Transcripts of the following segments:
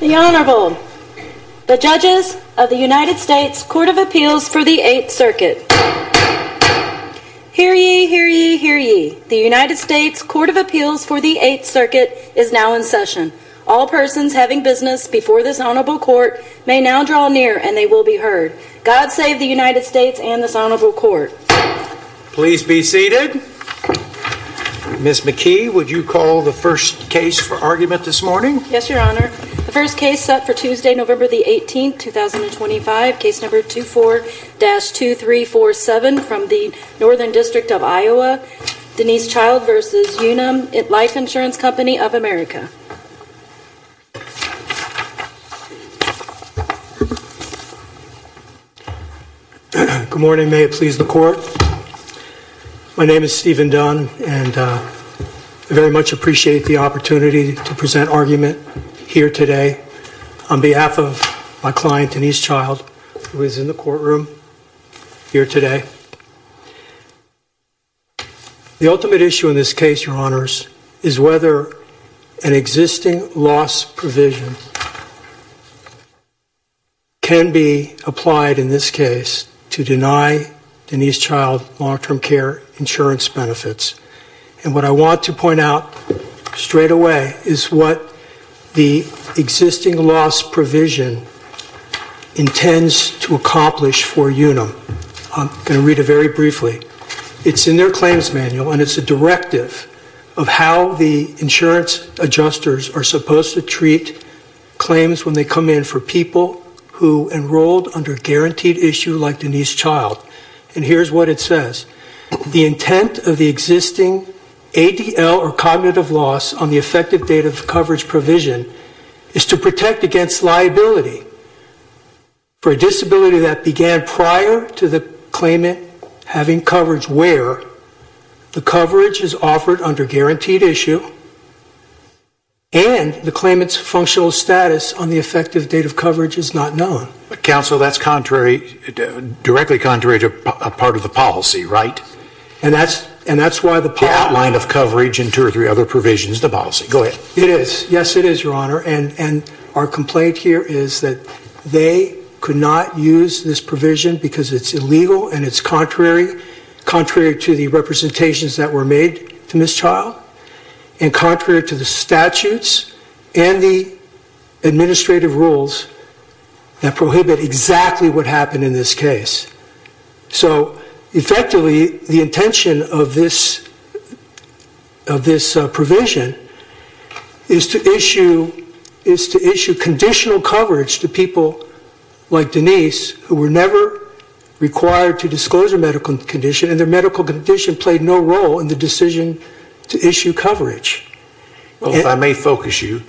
The Honorable, the Judges of the United States Court of Appeals for the Eighth Circuit. Hear ye, hear ye, hear ye. The United States Court of Appeals for the Eighth Circuit is now in session. All persons having business before this Honorable Court may now draw near and they will be heard. God save the United States and this Honorable Court. Please be seated. Ms. McKee, would you call the first case for argument this morning? Yes, Your Honor. The first case set for Tuesday, November the 18th, 2025. Case number 24-2347 from the Northern District of Iowa. Denise Child v. Unum Life Insurance Company of America Good morning. May it please the Court. My name is Stephen Dunn and I very much appreciate the opportunity to present argument here today on behalf of my client, Denise Child, who is in the courtroom here today. The ultimate issue in this case, Your Honors, is whether an existing loss provision can be applied in this case to deny Denise Child long-term care insurance benefits. And what I want to point out straight away is what the existing loss provision intends to accomplish for Unum. I'm going to read it very briefly. It's in their claims manual and it's a directive of how the insurance adjusters are supposed to treat claims when they come in for people who enrolled under guaranteed issue like Denise Child. And here's what it says. The intent of the existing ADL or cognitive loss on the effective date of coverage provision is to protect against liability for a disability that began prior to the claimant having coverage where the coverage is offered under guaranteed issue and the claimant's functional status on the effective date of coverage is not known. But, Counsel, that's contrary, directly contrary to a part of the policy, right? And that's why the policy The outline of coverage and two or three other provisions of the policy. Go ahead. It is. Yes, it is, Your Honor. And our complaint here is that they could not use this provision because it's illegal and it's contrary, contrary to the representations that were made to Miss Child and contrary to the statutes and the administrative rules that prohibit exactly what happened in this case. So, effectively, the intention of this provision is to issue conditional coverage to people like Denise who were never required to disclose their medical condition and their medical condition played no role in the decision to issue coverage. Well, if I may focus you,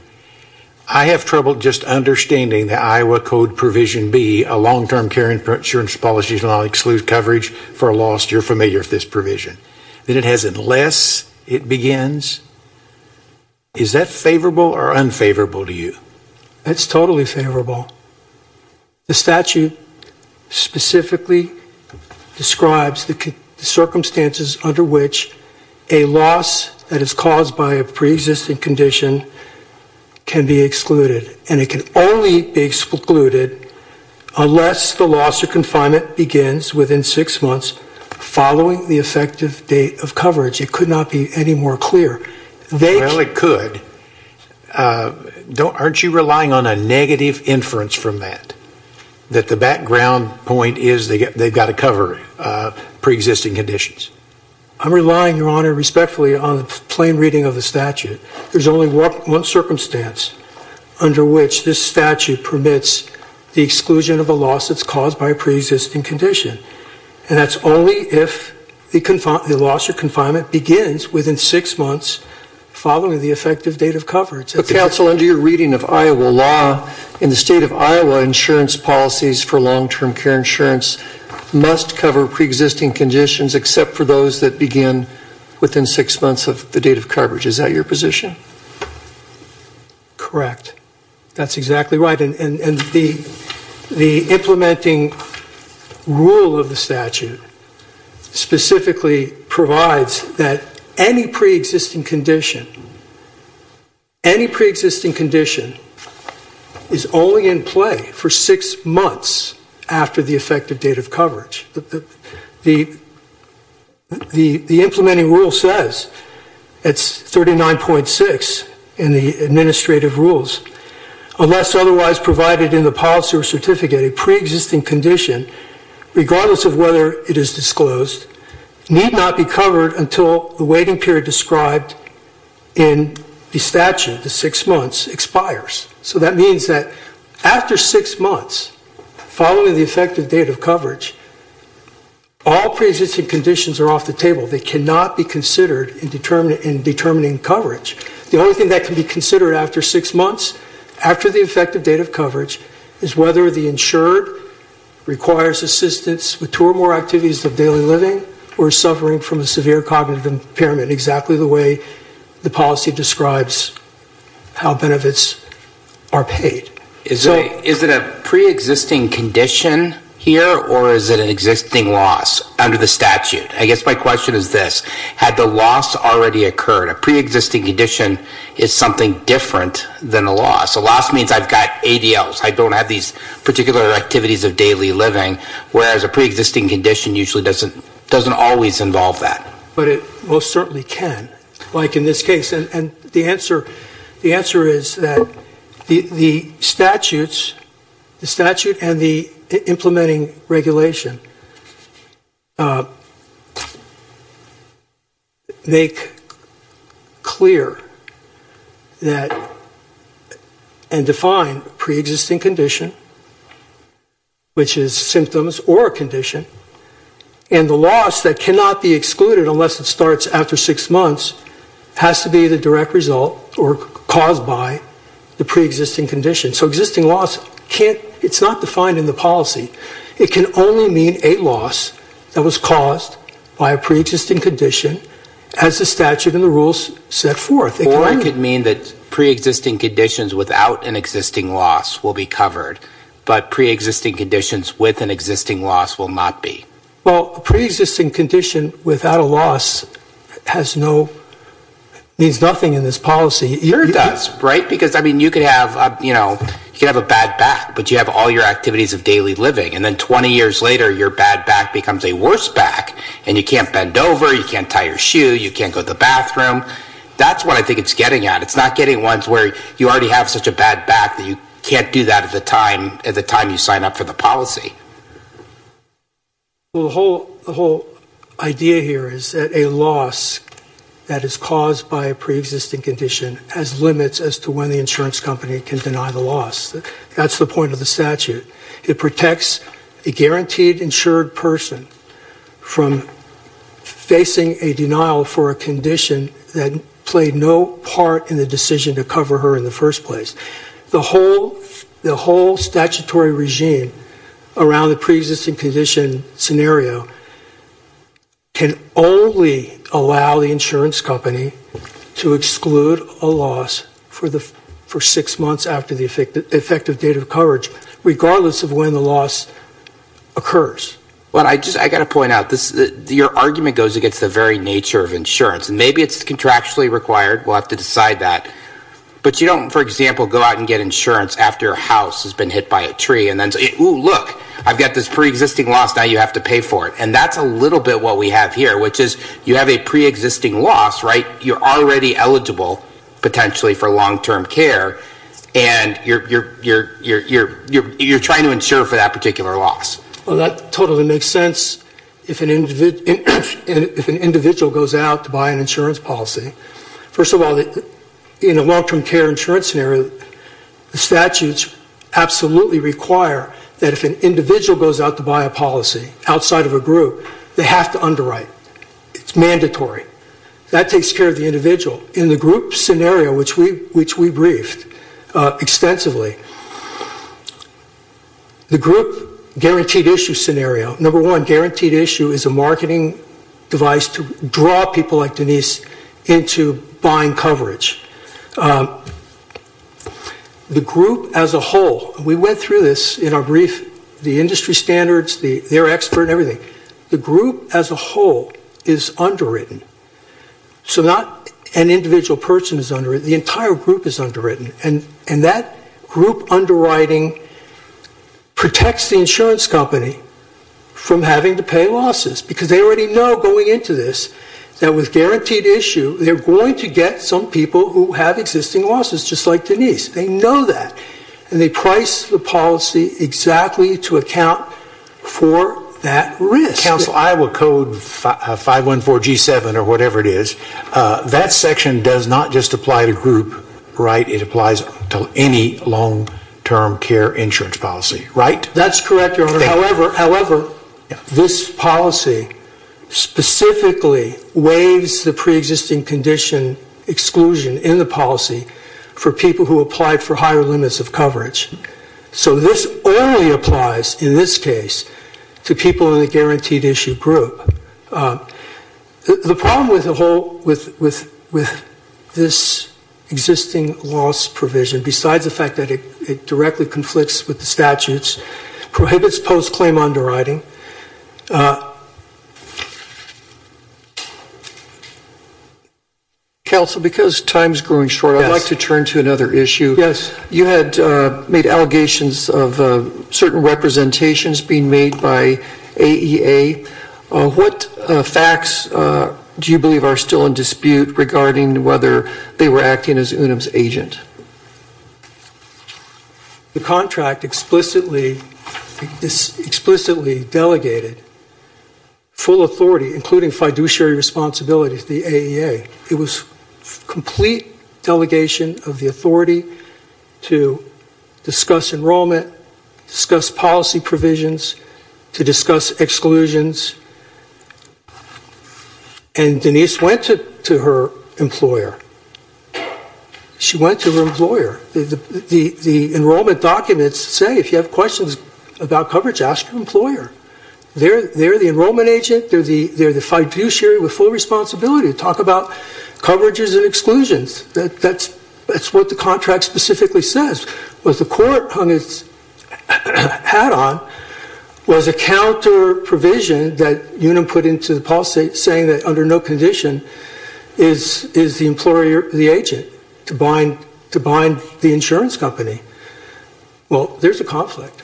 I have trouble just understanding the Iowa Code provision B a long-term care insurance policy shall not exclude coverage for a loss. You're familiar with this provision that it has unless it begins. Is that favorable or unfavorable to you? It's totally favorable. The statute specifically describes the circumstances under which a loss that is caused by a pre-existing condition can be excluded and it can only be excluded unless the loss of confinement begins within six months following the effective date of coverage. It could not be any more clear. Well, it could. Aren't you relying on a negative inference from that, that the background point is they've got to cover pre-existing conditions? I'm relying, Your Honor, respectfully on the plain reading of the statute. There's only one circumstance under which this statute permits the exclusion of a loss that's caused by a pre-existing condition and that's only if the loss of confinement begins within six months following the effective date of coverage. But, counsel, under your reading of Iowa law, in the state of Iowa, insurance policies for long-term care insurance must cover pre-existing conditions except for those that begin within six months of the date of coverage. Is that your position? Correct. That's exactly right. And the implementing rule of the statute specifically provides that any pre-existing condition, any pre-existing condition is only in play for six months after the effective date of coverage. The implementing rule says, it's 39.6 in the administrative rules, unless otherwise provided in the policy or certificate, a pre-existing condition, regardless of whether it is disclosed, need not be covered until the waiting period described in the statute, the six months, expires. So that means that after six months following the effective date of coverage, all pre-existing conditions are off the table. They cannot be considered in determining coverage. The only thing that can be considered after six months, after the effective date of coverage, is whether the insured requires assistance with two or more activities of daily living or is suffering from a severe cognitive impairment, exactly the way the policy describes how benefits are paid. Is it a pre-existing condition here or is it an existing loss under the statute? I guess my question is this. Had the loss already occurred, a pre-existing condition is something different than a loss. A loss means I've got ADLs. I don't have these particular activities of daily living, whereas a pre-existing condition usually doesn't always involve that. But it most certainly can, like in this case. And the answer is that the statutes, the statute and the implementing regulation, make clear that and define pre-existing condition, which is symptoms or a condition. And the loss that cannot be excluded unless it starts after six months has to be the direct result or caused by the pre-existing condition. So existing loss can't, it's not defined in the policy. It can only mean a loss that was caused by a pre-existing condition as the statute and the rules set forth. Or it could mean that pre-existing conditions without an existing loss will be covered, but pre-existing conditions with an existing loss will not be. Well, a pre-existing condition without a loss has no, means nothing in this policy. It does, right? Because you could have a bad back, but you have all your activities of daily living. And then 20 years later, your bad back becomes a worse back. And you can't bend over, you can't tie your shoe, you can't go to the bathroom. That's what I think it's getting at. It's not getting ones where you already have such a bad back that you can't do that at the time, at the time you sign up for the policy. Well, the whole idea here is that a loss that is caused by a pre-existing condition has limits as to when the insurance company can deny the loss. That's the point of the statute. It protects a guaranteed insured person from facing a denial for a condition that played no part in the decision to cover her in the first place. The whole statutory regime around the pre-existing condition scenario can only allow the insurance company to exclude a loss for six months after the effective date of coverage, regardless of when the loss occurs. Well, I just, I got to point out, your argument goes against the very nature of insurance. Maybe it's contractually required, we'll have to decide that. But you don't, for example, go out and get insurance after a house has been hit by a tree and then say, ooh, look, I've got this pre-existing loss, now you have to pay for it. And that's a little bit what we have here, which is you have a pre-existing loss, right, you're already eligible, potentially, for long-term care, and you're trying to insure for that particular loss. Well, that totally makes sense if an individual goes out to buy an insurance policy. First of all, in a long-term care insurance scenario, the statutes absolutely require that if an individual goes out to buy a policy outside of a group, they have to underwrite. It's mandatory. That takes care of the individual. In the group scenario, which we briefed extensively, the group guaranteed issue scenario, number one, guaranteed issue is a marketing device to draw people like Denise into buying coverage. The group as a whole, we went through this in our brief, the industry standards, their expert and everything, the group as a whole is underwritten. So not an individual person is underwritten, the entire group is underwritten. And that group underwriting protects the insurance company from having to pay losses, because they already know going into this that with guaranteed issue, they're going to get some people who have existing losses, just like Denise. They know that. And they price the policy exactly to account for that risk. Council, I will code 514G7 or whatever it is. That section does not just apply to group, right? It applies to any long-term care insurance policy, right? That's correct, Your Honor. However, this policy specifically waives the pre-existing condition exclusion in the policy for people who applied for higher limits of coverage. So this only applies in this case to people in the guaranteed issue group. The problem with the whole, with this existing loss provision, besides the fact that it directly conflicts with the statutes, prohibits post-claim underwriting. Council, because time is growing short, I'd like to turn to another issue. Yes. You had made allegations of certain representations being made by AEA. What facts do you believe are still in dispute regarding whether they were acting as UNUM's agent? The contract explicitly delegated full authority, including fiduciary responsibility to the agency to discuss enrollment, discuss policy provisions, to discuss exclusions. And Denise went to her employer. She went to her employer. The enrollment documents say if you have questions about coverage, ask your employer. They're the enrollment agent. They're the fiduciary with full responsibility to talk about coverages and exclusions. That's what the contract specifically says. What the court hung its hat on was a counter provision that UNUM put into the policy saying that under no condition is the employer the agent to bind the insurance company. Well, there's a conflict.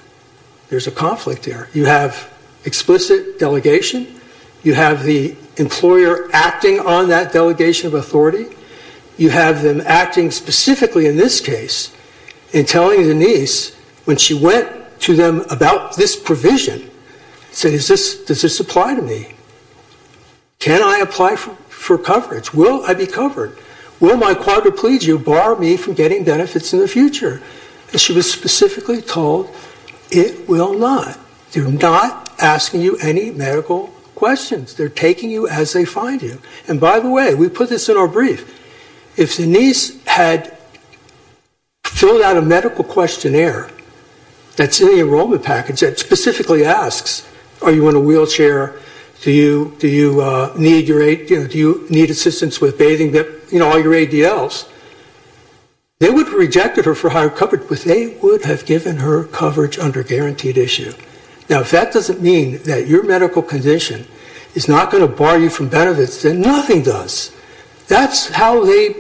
There's a conflict here. You have explicit delegation. You have the employer acting on that delegation of authority. You have them acting specifically in this case in telling Denise when she went to them about this provision, said, does this apply to me? Can I apply for coverage? Will I be covered? Will my quadriplegia bar me from getting benefits in the future? And she was specifically told it will not. They're not asking you any medical questions. They're taking you as they find you. And by the way, we put this in our brief. If Denise had filled out a medical questionnaire that's in the enrollment package that specifically asks, are you in a wheelchair? Do you need assistance with bathing? All your ADLs. They would have rejected her for higher coverage, but they would have given her coverage under guaranteed issue. Now, if that doesn't mean that your medical condition is not going to bar you from benefits, then nothing does. That's how they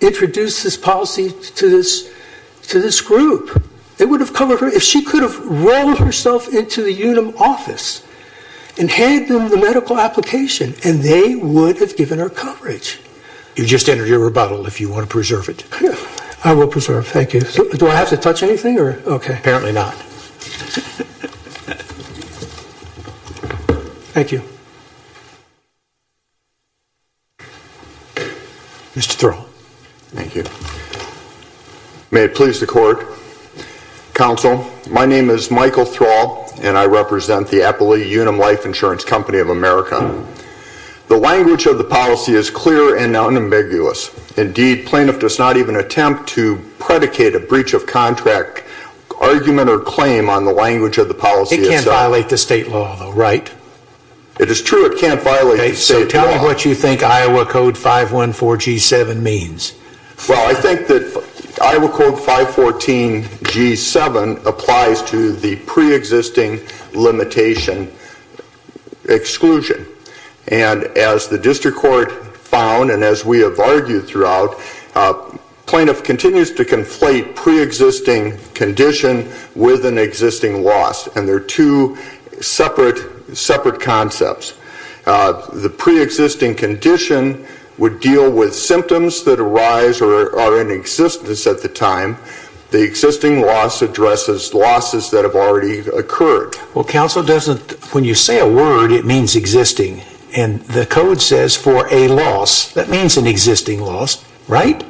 introduced this policy to this group. They would have covered her if she could have rolled herself into the UNUM office and handed them the medical application, and they would have given her coverage. You just entered your rebuttal if you want to preserve it. I will preserve. Thank you. Do I have to touch anything? Apparently not. Thank you. Mr. Thrall. Thank you. May it please the court. Counsel, my name is Michael Thrall, and I represent the Appalachian UNUM Life Insurance Company of America. The language of the policy is clear and unambiguous. Indeed, plaintiff does not even attempt to predicate a breach of contract argument or claim on the language of the policy itself. It can't violate the state law, though, right? It is true it can't violate the state law. Okay, so tell me what you think Iowa Code 514G7 means. Well, I think that Iowa Code 514G7 applies to the preexisting limitations of the state nation exclusion. And as the district court found, and as we have argued throughout, plaintiff continues to conflate preexisting condition with an existing loss, and they're two separate concepts. The preexisting condition would deal with symptoms that arise or are in existence at the time. The existing loss addresses losses that have already occurred. Well, counsel, when you say a word, it means existing. And the code says for a loss, that means an existing loss, right?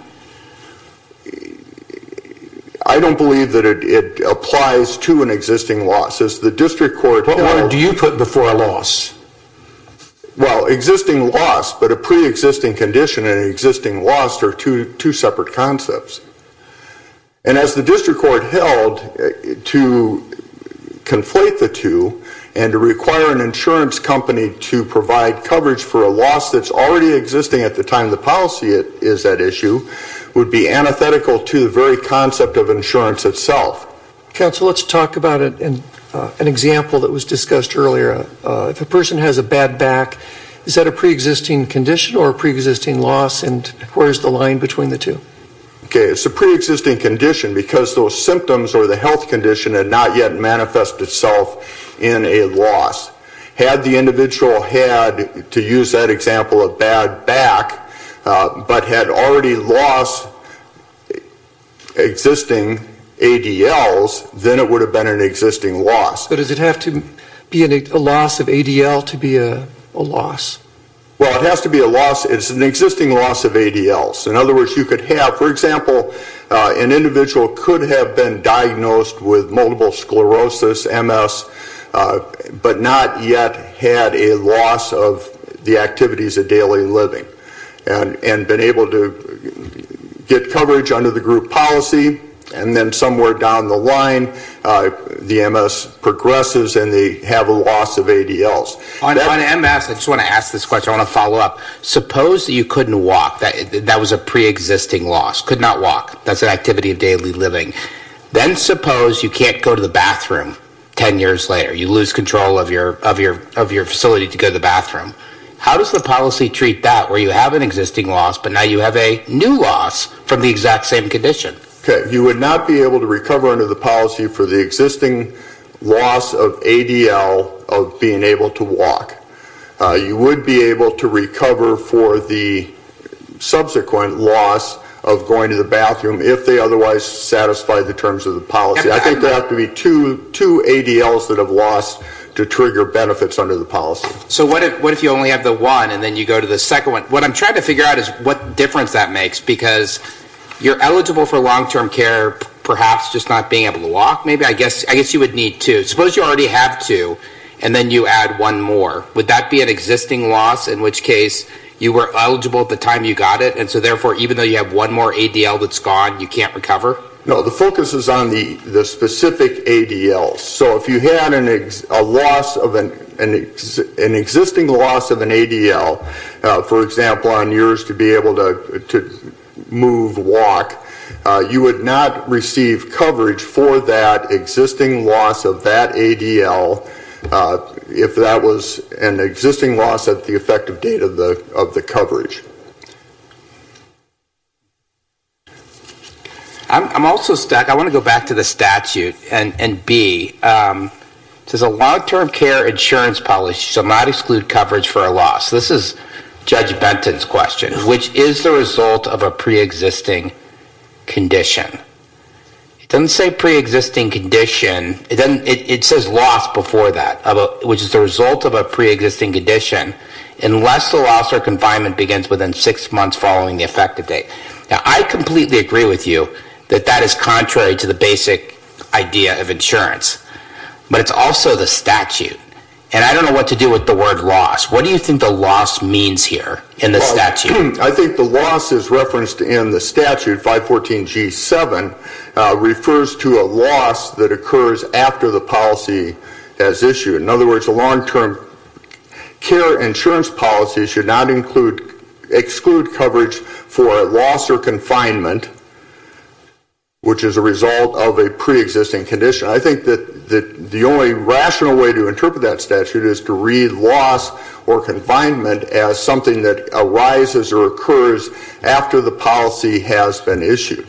I don't believe that it applies to an existing loss. As the district court... What word do you put before a loss? Well, existing loss, but a preexisting condition and an existing loss are two separate concepts. And as the district court held, to conflate the two and to require an insurance company to provide coverage for a loss that's already existing at the time the policy is at issue would be antithetical to the very concept of insurance itself. Counsel, let's talk about an example that was discussed earlier. If a person has a bad back, is that a preexisting condition or a preexisting loss, and where's the line between the two? Okay, it's a preexisting condition because those symptoms or the health condition had not yet manifested itself in a loss. Had the individual had, to use that example, a bad back, but had already lost existing ADLs, then it would have been an existing loss. But does it have to be a loss of ADL to be a loss? Well, it has to be a loss. It's an existing loss of ADLs. In other words, you could have, for example, an individual could have been diagnosed with multiple sclerosis, MS, but not yet had a loss of the activities of daily living and been able to get coverage under the group policy. And then somewhere down the line, the MS progresses and they have a loss of ADLs. On MS, I just want to ask this question, I want to follow up. Suppose you couldn't walk, that was a preexisting loss, could not walk, that's an activity of daily living. Then suppose you can't go to the bathroom ten years later, you lose control of your facility to go to the bathroom. How does the policy treat that where you have an existing loss, but now you have a new loss from the exact same condition? Okay, you would not be able to recover under the policy for the existing loss of ADL of being able to walk. You would be able to recover for the subsequent loss of going to the bathroom if they otherwise satisfied the terms of the policy. I think there have to be two ADLs that have lost to trigger benefits under the policy. So what if you only have the one and then you go to the second one? What I'm trying to figure out is what difference that makes because you're eligible for long-term care perhaps just not being able to walk maybe? I guess you would need two. Suppose you already have two and then you add one more. Would that be an existing loss in which case you were eligible at the time you got it and so therefore even though you have one more ADL that's gone you can't recover? No, the focus is on the specific ADL. So if you had an existing loss of an ADL, for example on yours to be able to move, walk, you would not receive coverage for that existing loss of that ADL if that was an existing loss at the effective date of the coverage. I'm also stuck. I want to go back to the statute and B. It says a long-term care insurance policy shall not exclude coverage for a loss. This is Judge Benton's question, which is the result of a pre-existing condition. It doesn't say pre-existing condition. It says loss before that, which is the result of a pre-existing condition unless the loss or confinement begins within six months following the effective date. Now I completely agree with you that that is contrary to the basic idea of insurance, but it's also the statute and I don't know what to do with the word loss. What do you think the loss means here in the statute? I think the loss is referenced in the statute, 514G7, refers to a loss that occurs after the policy as issued. In other words, a long-term care insurance policy should not exclude coverage for a loss or confinement, which is a result of a pre-existing condition. I think that the only rational way to interpret that statute is to read loss or confinement as something that arises or occurs after the policy has been issued.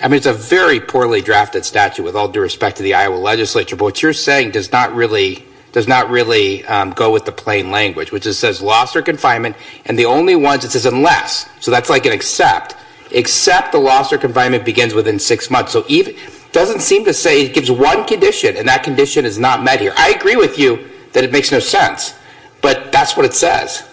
I mean, it's a very poorly drafted statute with all due respect to the Iowa legislature, but what you're saying does not really go with the plain language, which it says loss or confinement and the only ones it says unless, so that's like an except, except the loss or confinement begins within six months. So it doesn't seem to say it gives one condition and that condition is not met here. I agree with you that it makes no sense, but that's what it says.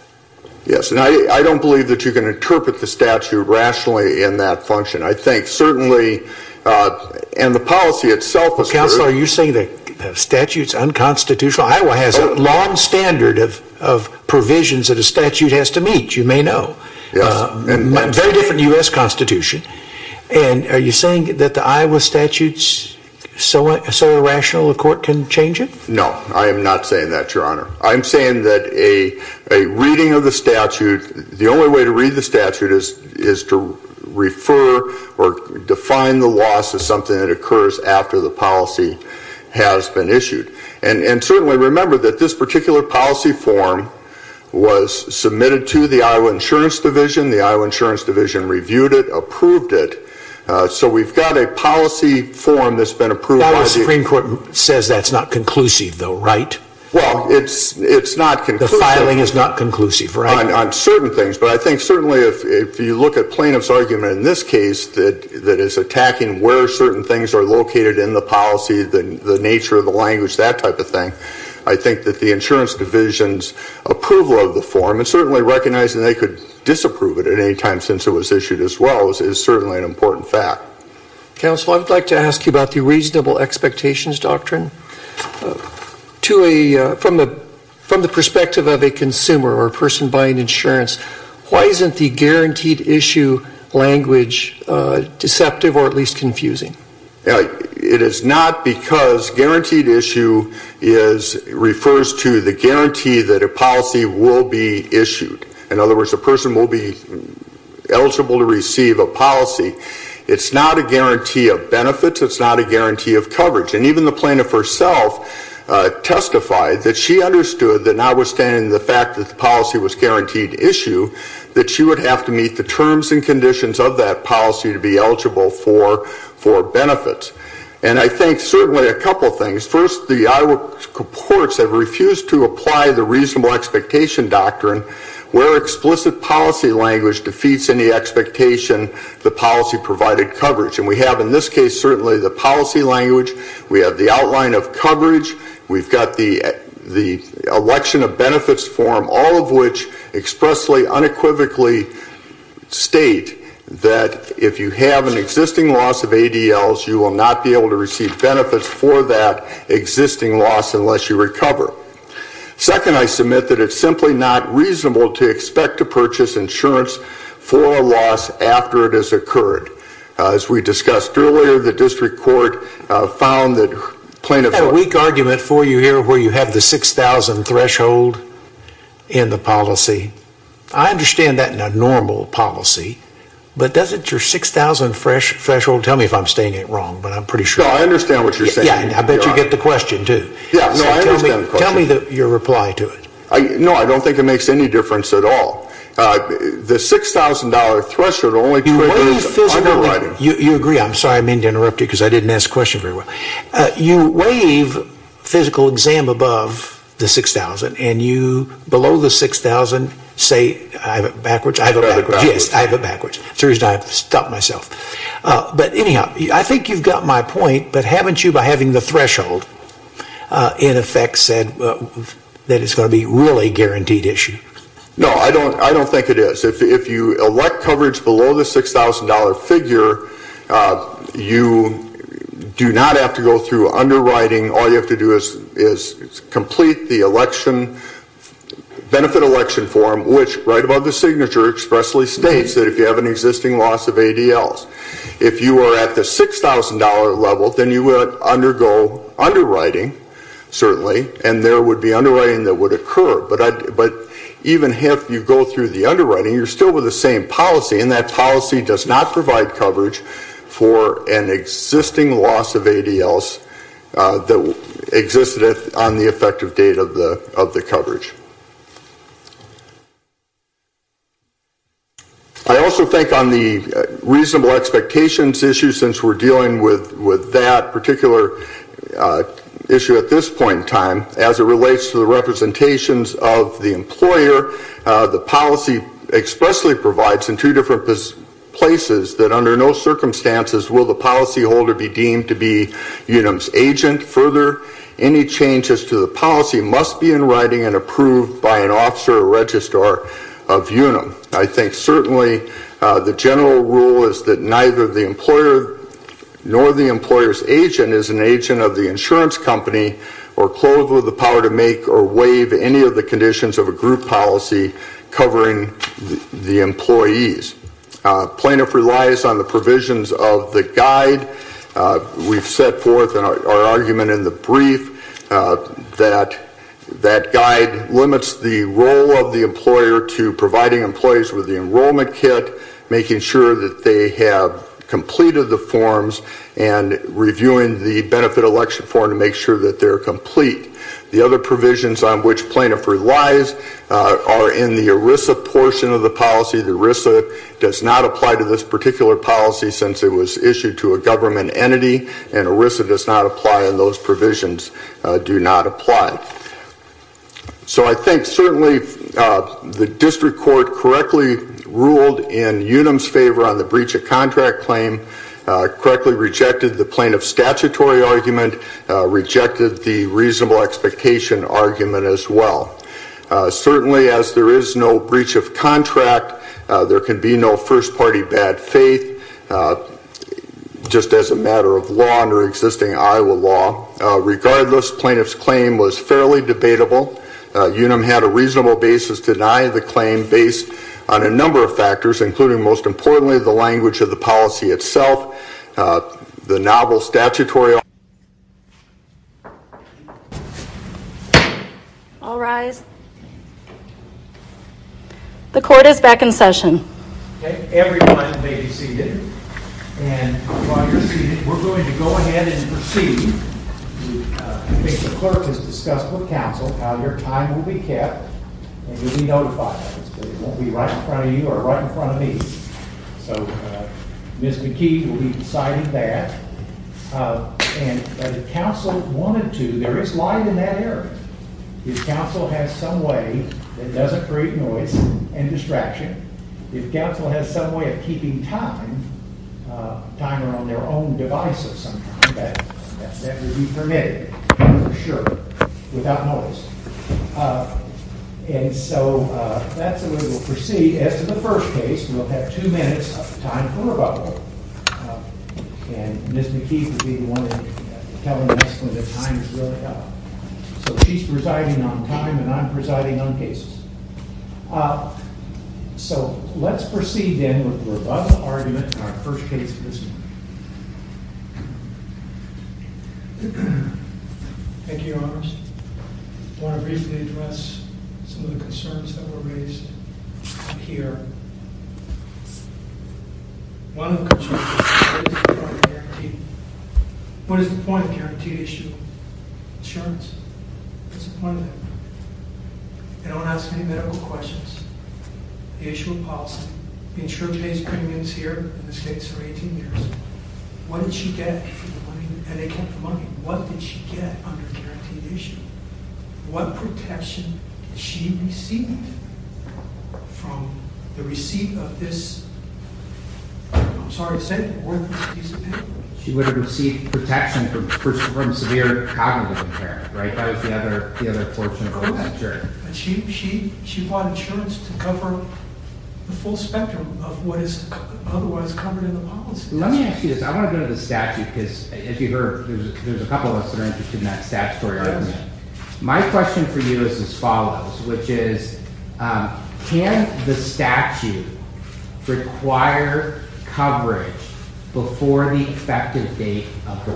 Yes, and I don't believe that you can interpret the statute rationally in that function. I think certainly, and the policy itself is... Counselor, are you saying that the statute is unconstitutional? Iowa has a long standard of provisions that a statute has to meet, you may know. A very different U.S. Constitution. And are you saying that the Iowa statute is so irrational a court can change it? No, I am not saying that, Your Honor. I'm saying that a reading of the statute, the only way to read the statute is to refer or define the loss as something that occurs after the policy has been issued. And certainly remember that this particular policy form was submitted to the Iowa Insurance Division. The Iowa Insurance Division reviewed it, approved it. So we've got a policy form that's been approved by the... Well, the Supreme Court says that's not conclusive though, right? Well, it's not conclusive. The filing is not conclusive, right? On certain things, but I think certainly if you look at plaintiff's argument in this case that is attacking where certain things are located in the policy, the nature of the language, that type of thing, I think that the insurance division's approval of the form and certainly recognizing they could disapprove it at any time since it was issued as well is certainly an important fact. Counsel, I would like to ask you about the reasonable expectations doctrine. From the perspective of a consumer or a person buying insurance, why isn't the guaranteed issue language deceptive or at least confusing? It is not because guaranteed issue refers to the guarantee that a policy will be issued. In other words, a person will be eligible to receive a policy. It's not a guarantee of benefits. It's not a guarantee of coverage. And even the plaintiff herself testified that she understood that notwithstanding the fact that the policy was guaranteed issue that she would have to meet the terms and conditions of that policy to be eligible for benefits. And I think certainly a couple of things. First, the Iowa courts have refused to apply the reasonable expectation doctrine where explicit policy language defeats any expectation the policy provided coverage. And we have in this case certainly the policy language, we have the outline of coverage, we've got the election of benefits form, all of which expressly, unequivocally state that if you have an existing loss of ADLs, you will not be able to receive benefits for that existing loss unless you recover. Second, I submit that it's simply not reasonable to expect to purchase insurance for a loss after it has occurred. As we discussed earlier, the district court found that plaintiff... I have a weak argument for you here where you have the $6,000 threshold in the policy. I understand that in a normal policy, but doesn't your $6,000 threshold, tell me if I'm saying it wrong, but I'm pretty sure... No, I understand what you're saying. Yeah, I bet you get the question too. Yeah, no, I understand the question. Tell me your reply to it. No, I don't think it makes any difference at all. The $6,000 threshold only triggers underwriting. You agree, I'm sorry I mean to interrupt you because I didn't ask the question very well. You waive physical exam above the $6,000 and you, below the $6,000, say... I have it backwards? I have it backwards. Yes, I have it backwards. The reason I have to stop myself. But anyhow, I think you've got my point, but haven't you by having the threshold in effect said that it's going to be a really guaranteed issue? No, I don't think it is. If you elect coverage below the $6,000 figure, you do not have to go through underwriting. All you have to do is complete the benefit election form, which right above the signature expressly states that if you have an existing loss of ADLs. If you are at the $6,000 level, then you would undergo underwriting, certainly, and there would be underwriting that would occur. But even if you go through the underwriting, you're still with the same policy, and that policy does not provide coverage for an existing loss of ADLs that existed on the effective date of the coverage. I also think on the reasonable expectations issue, since we're dealing with that particular issue at this point in time, as it relates to the representations of the employer, the policy expressly provides in two different places that under no circumstances will the policyholder be deemed to be UNUM's agent. Further, any changes to the policy must be in writing and approved by an officer or registrar of UNUM. I think certainly the general rule is that neither the employer nor the employer's agent is an agent of the insurance company or clothed with the power to make or waive any of the conditions of a group policy covering the employees. Plaintiff relies on the provisions of the guide. We've set forth our argument in the brief that that guide limits the role of the employer to providing employees with the enrollment kit, making sure that they have completed the forms, and reviewing the benefit election form to make sure that they're complete. The other provisions on which plaintiff relies are in the ERISA portion of the policy. The ERISA does not apply to this particular policy since it was issued to a government entity, and ERISA does not apply and those provisions do not apply. So I think certainly the district court correctly ruled in UNUM's favor on the breach of contract claim, correctly rejected the plaintiff's statutory argument, rejected the reasonable expectation argument as well. Certainly as there is no breach of contract, there can be no first party bad faith, just as a matter of law under existing Iowa law. Regardless, plaintiff's claim was fairly debatable. UNUM had a reasonable basis to deny the claim based on a number of factors, including most importantly the language of the policy itself, the novel statutory argument. All rise. The court is back in session. Everyone may be seated. And while you're seated, we're going to go ahead and proceed. The clerk has discussed with counsel how your time will be kept, and you'll be notified. It won't be right in front of you or right in front of me. Ms. McKee will be deciding that. And if counsel wanted to, there is light in that area. If counsel has some way that doesn't create noise and distraction, if counsel has some way of keeping time, time around their own devices sometimes, that would be permitted, for sure, without noise. And so that's the way we'll proceed. As to the first case, we'll have two minutes of time for rebuttal. And Ms. McKee will be the one telling us when the time is really up. So she's presiding on time, and I'm presiding on cases. So let's proceed then with the rebuttal argument for our first case of this morning. Thank you, Your Honors. I want to briefly address some of the concerns that were raised here. What is the point of guaranteed insurance? They don't ask any medical questions. The issue of policy. The insurer pays premiums here in this case for 18 years. What did she get for the money? And they kept the money. What did she get under the guaranteed issue? What protection did she receive from the receipt of this, I'm sorry to say, worthless piece of paper? She would have received protection from severe cognitive impairment, right? That was the other portion of what was insured. But she bought insurance to cover the full spectrum of what is otherwise covered in the policy. Let me ask you this. I want to go to the statute, because as you heard, there's a couple of us that are interested in that statutory argument. My question for you is as follows, which is, can the statute require coverage before the effective date of her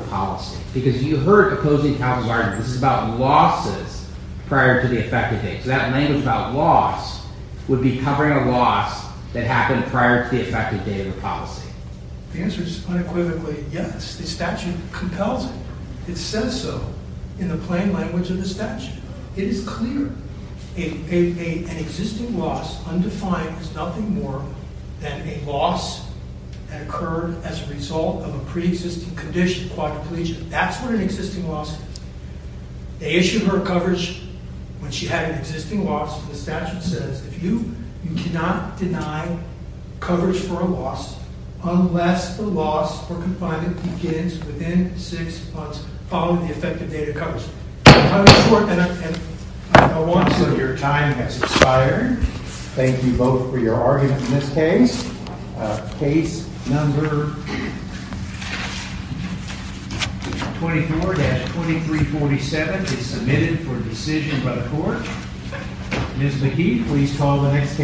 policy? The answer is unequivocally yes. The statute compels it. It says so in the plain language of the statute. It is clear an existing loss, undefined, is nothing more than a loss that occurred as a result of a pre-existing condition, quadriplegia. That's what an existing loss is. They issued her coverage when she had an existing loss. The statute says you cannot deny coverage for a loss unless the loss or confinement begins within six months following the effective date of coverage. Your time has expired. Thank you both for your argument in this case. Case number 24-2347 is submitted for decision by the court. Ms. Mahid, please call the next case.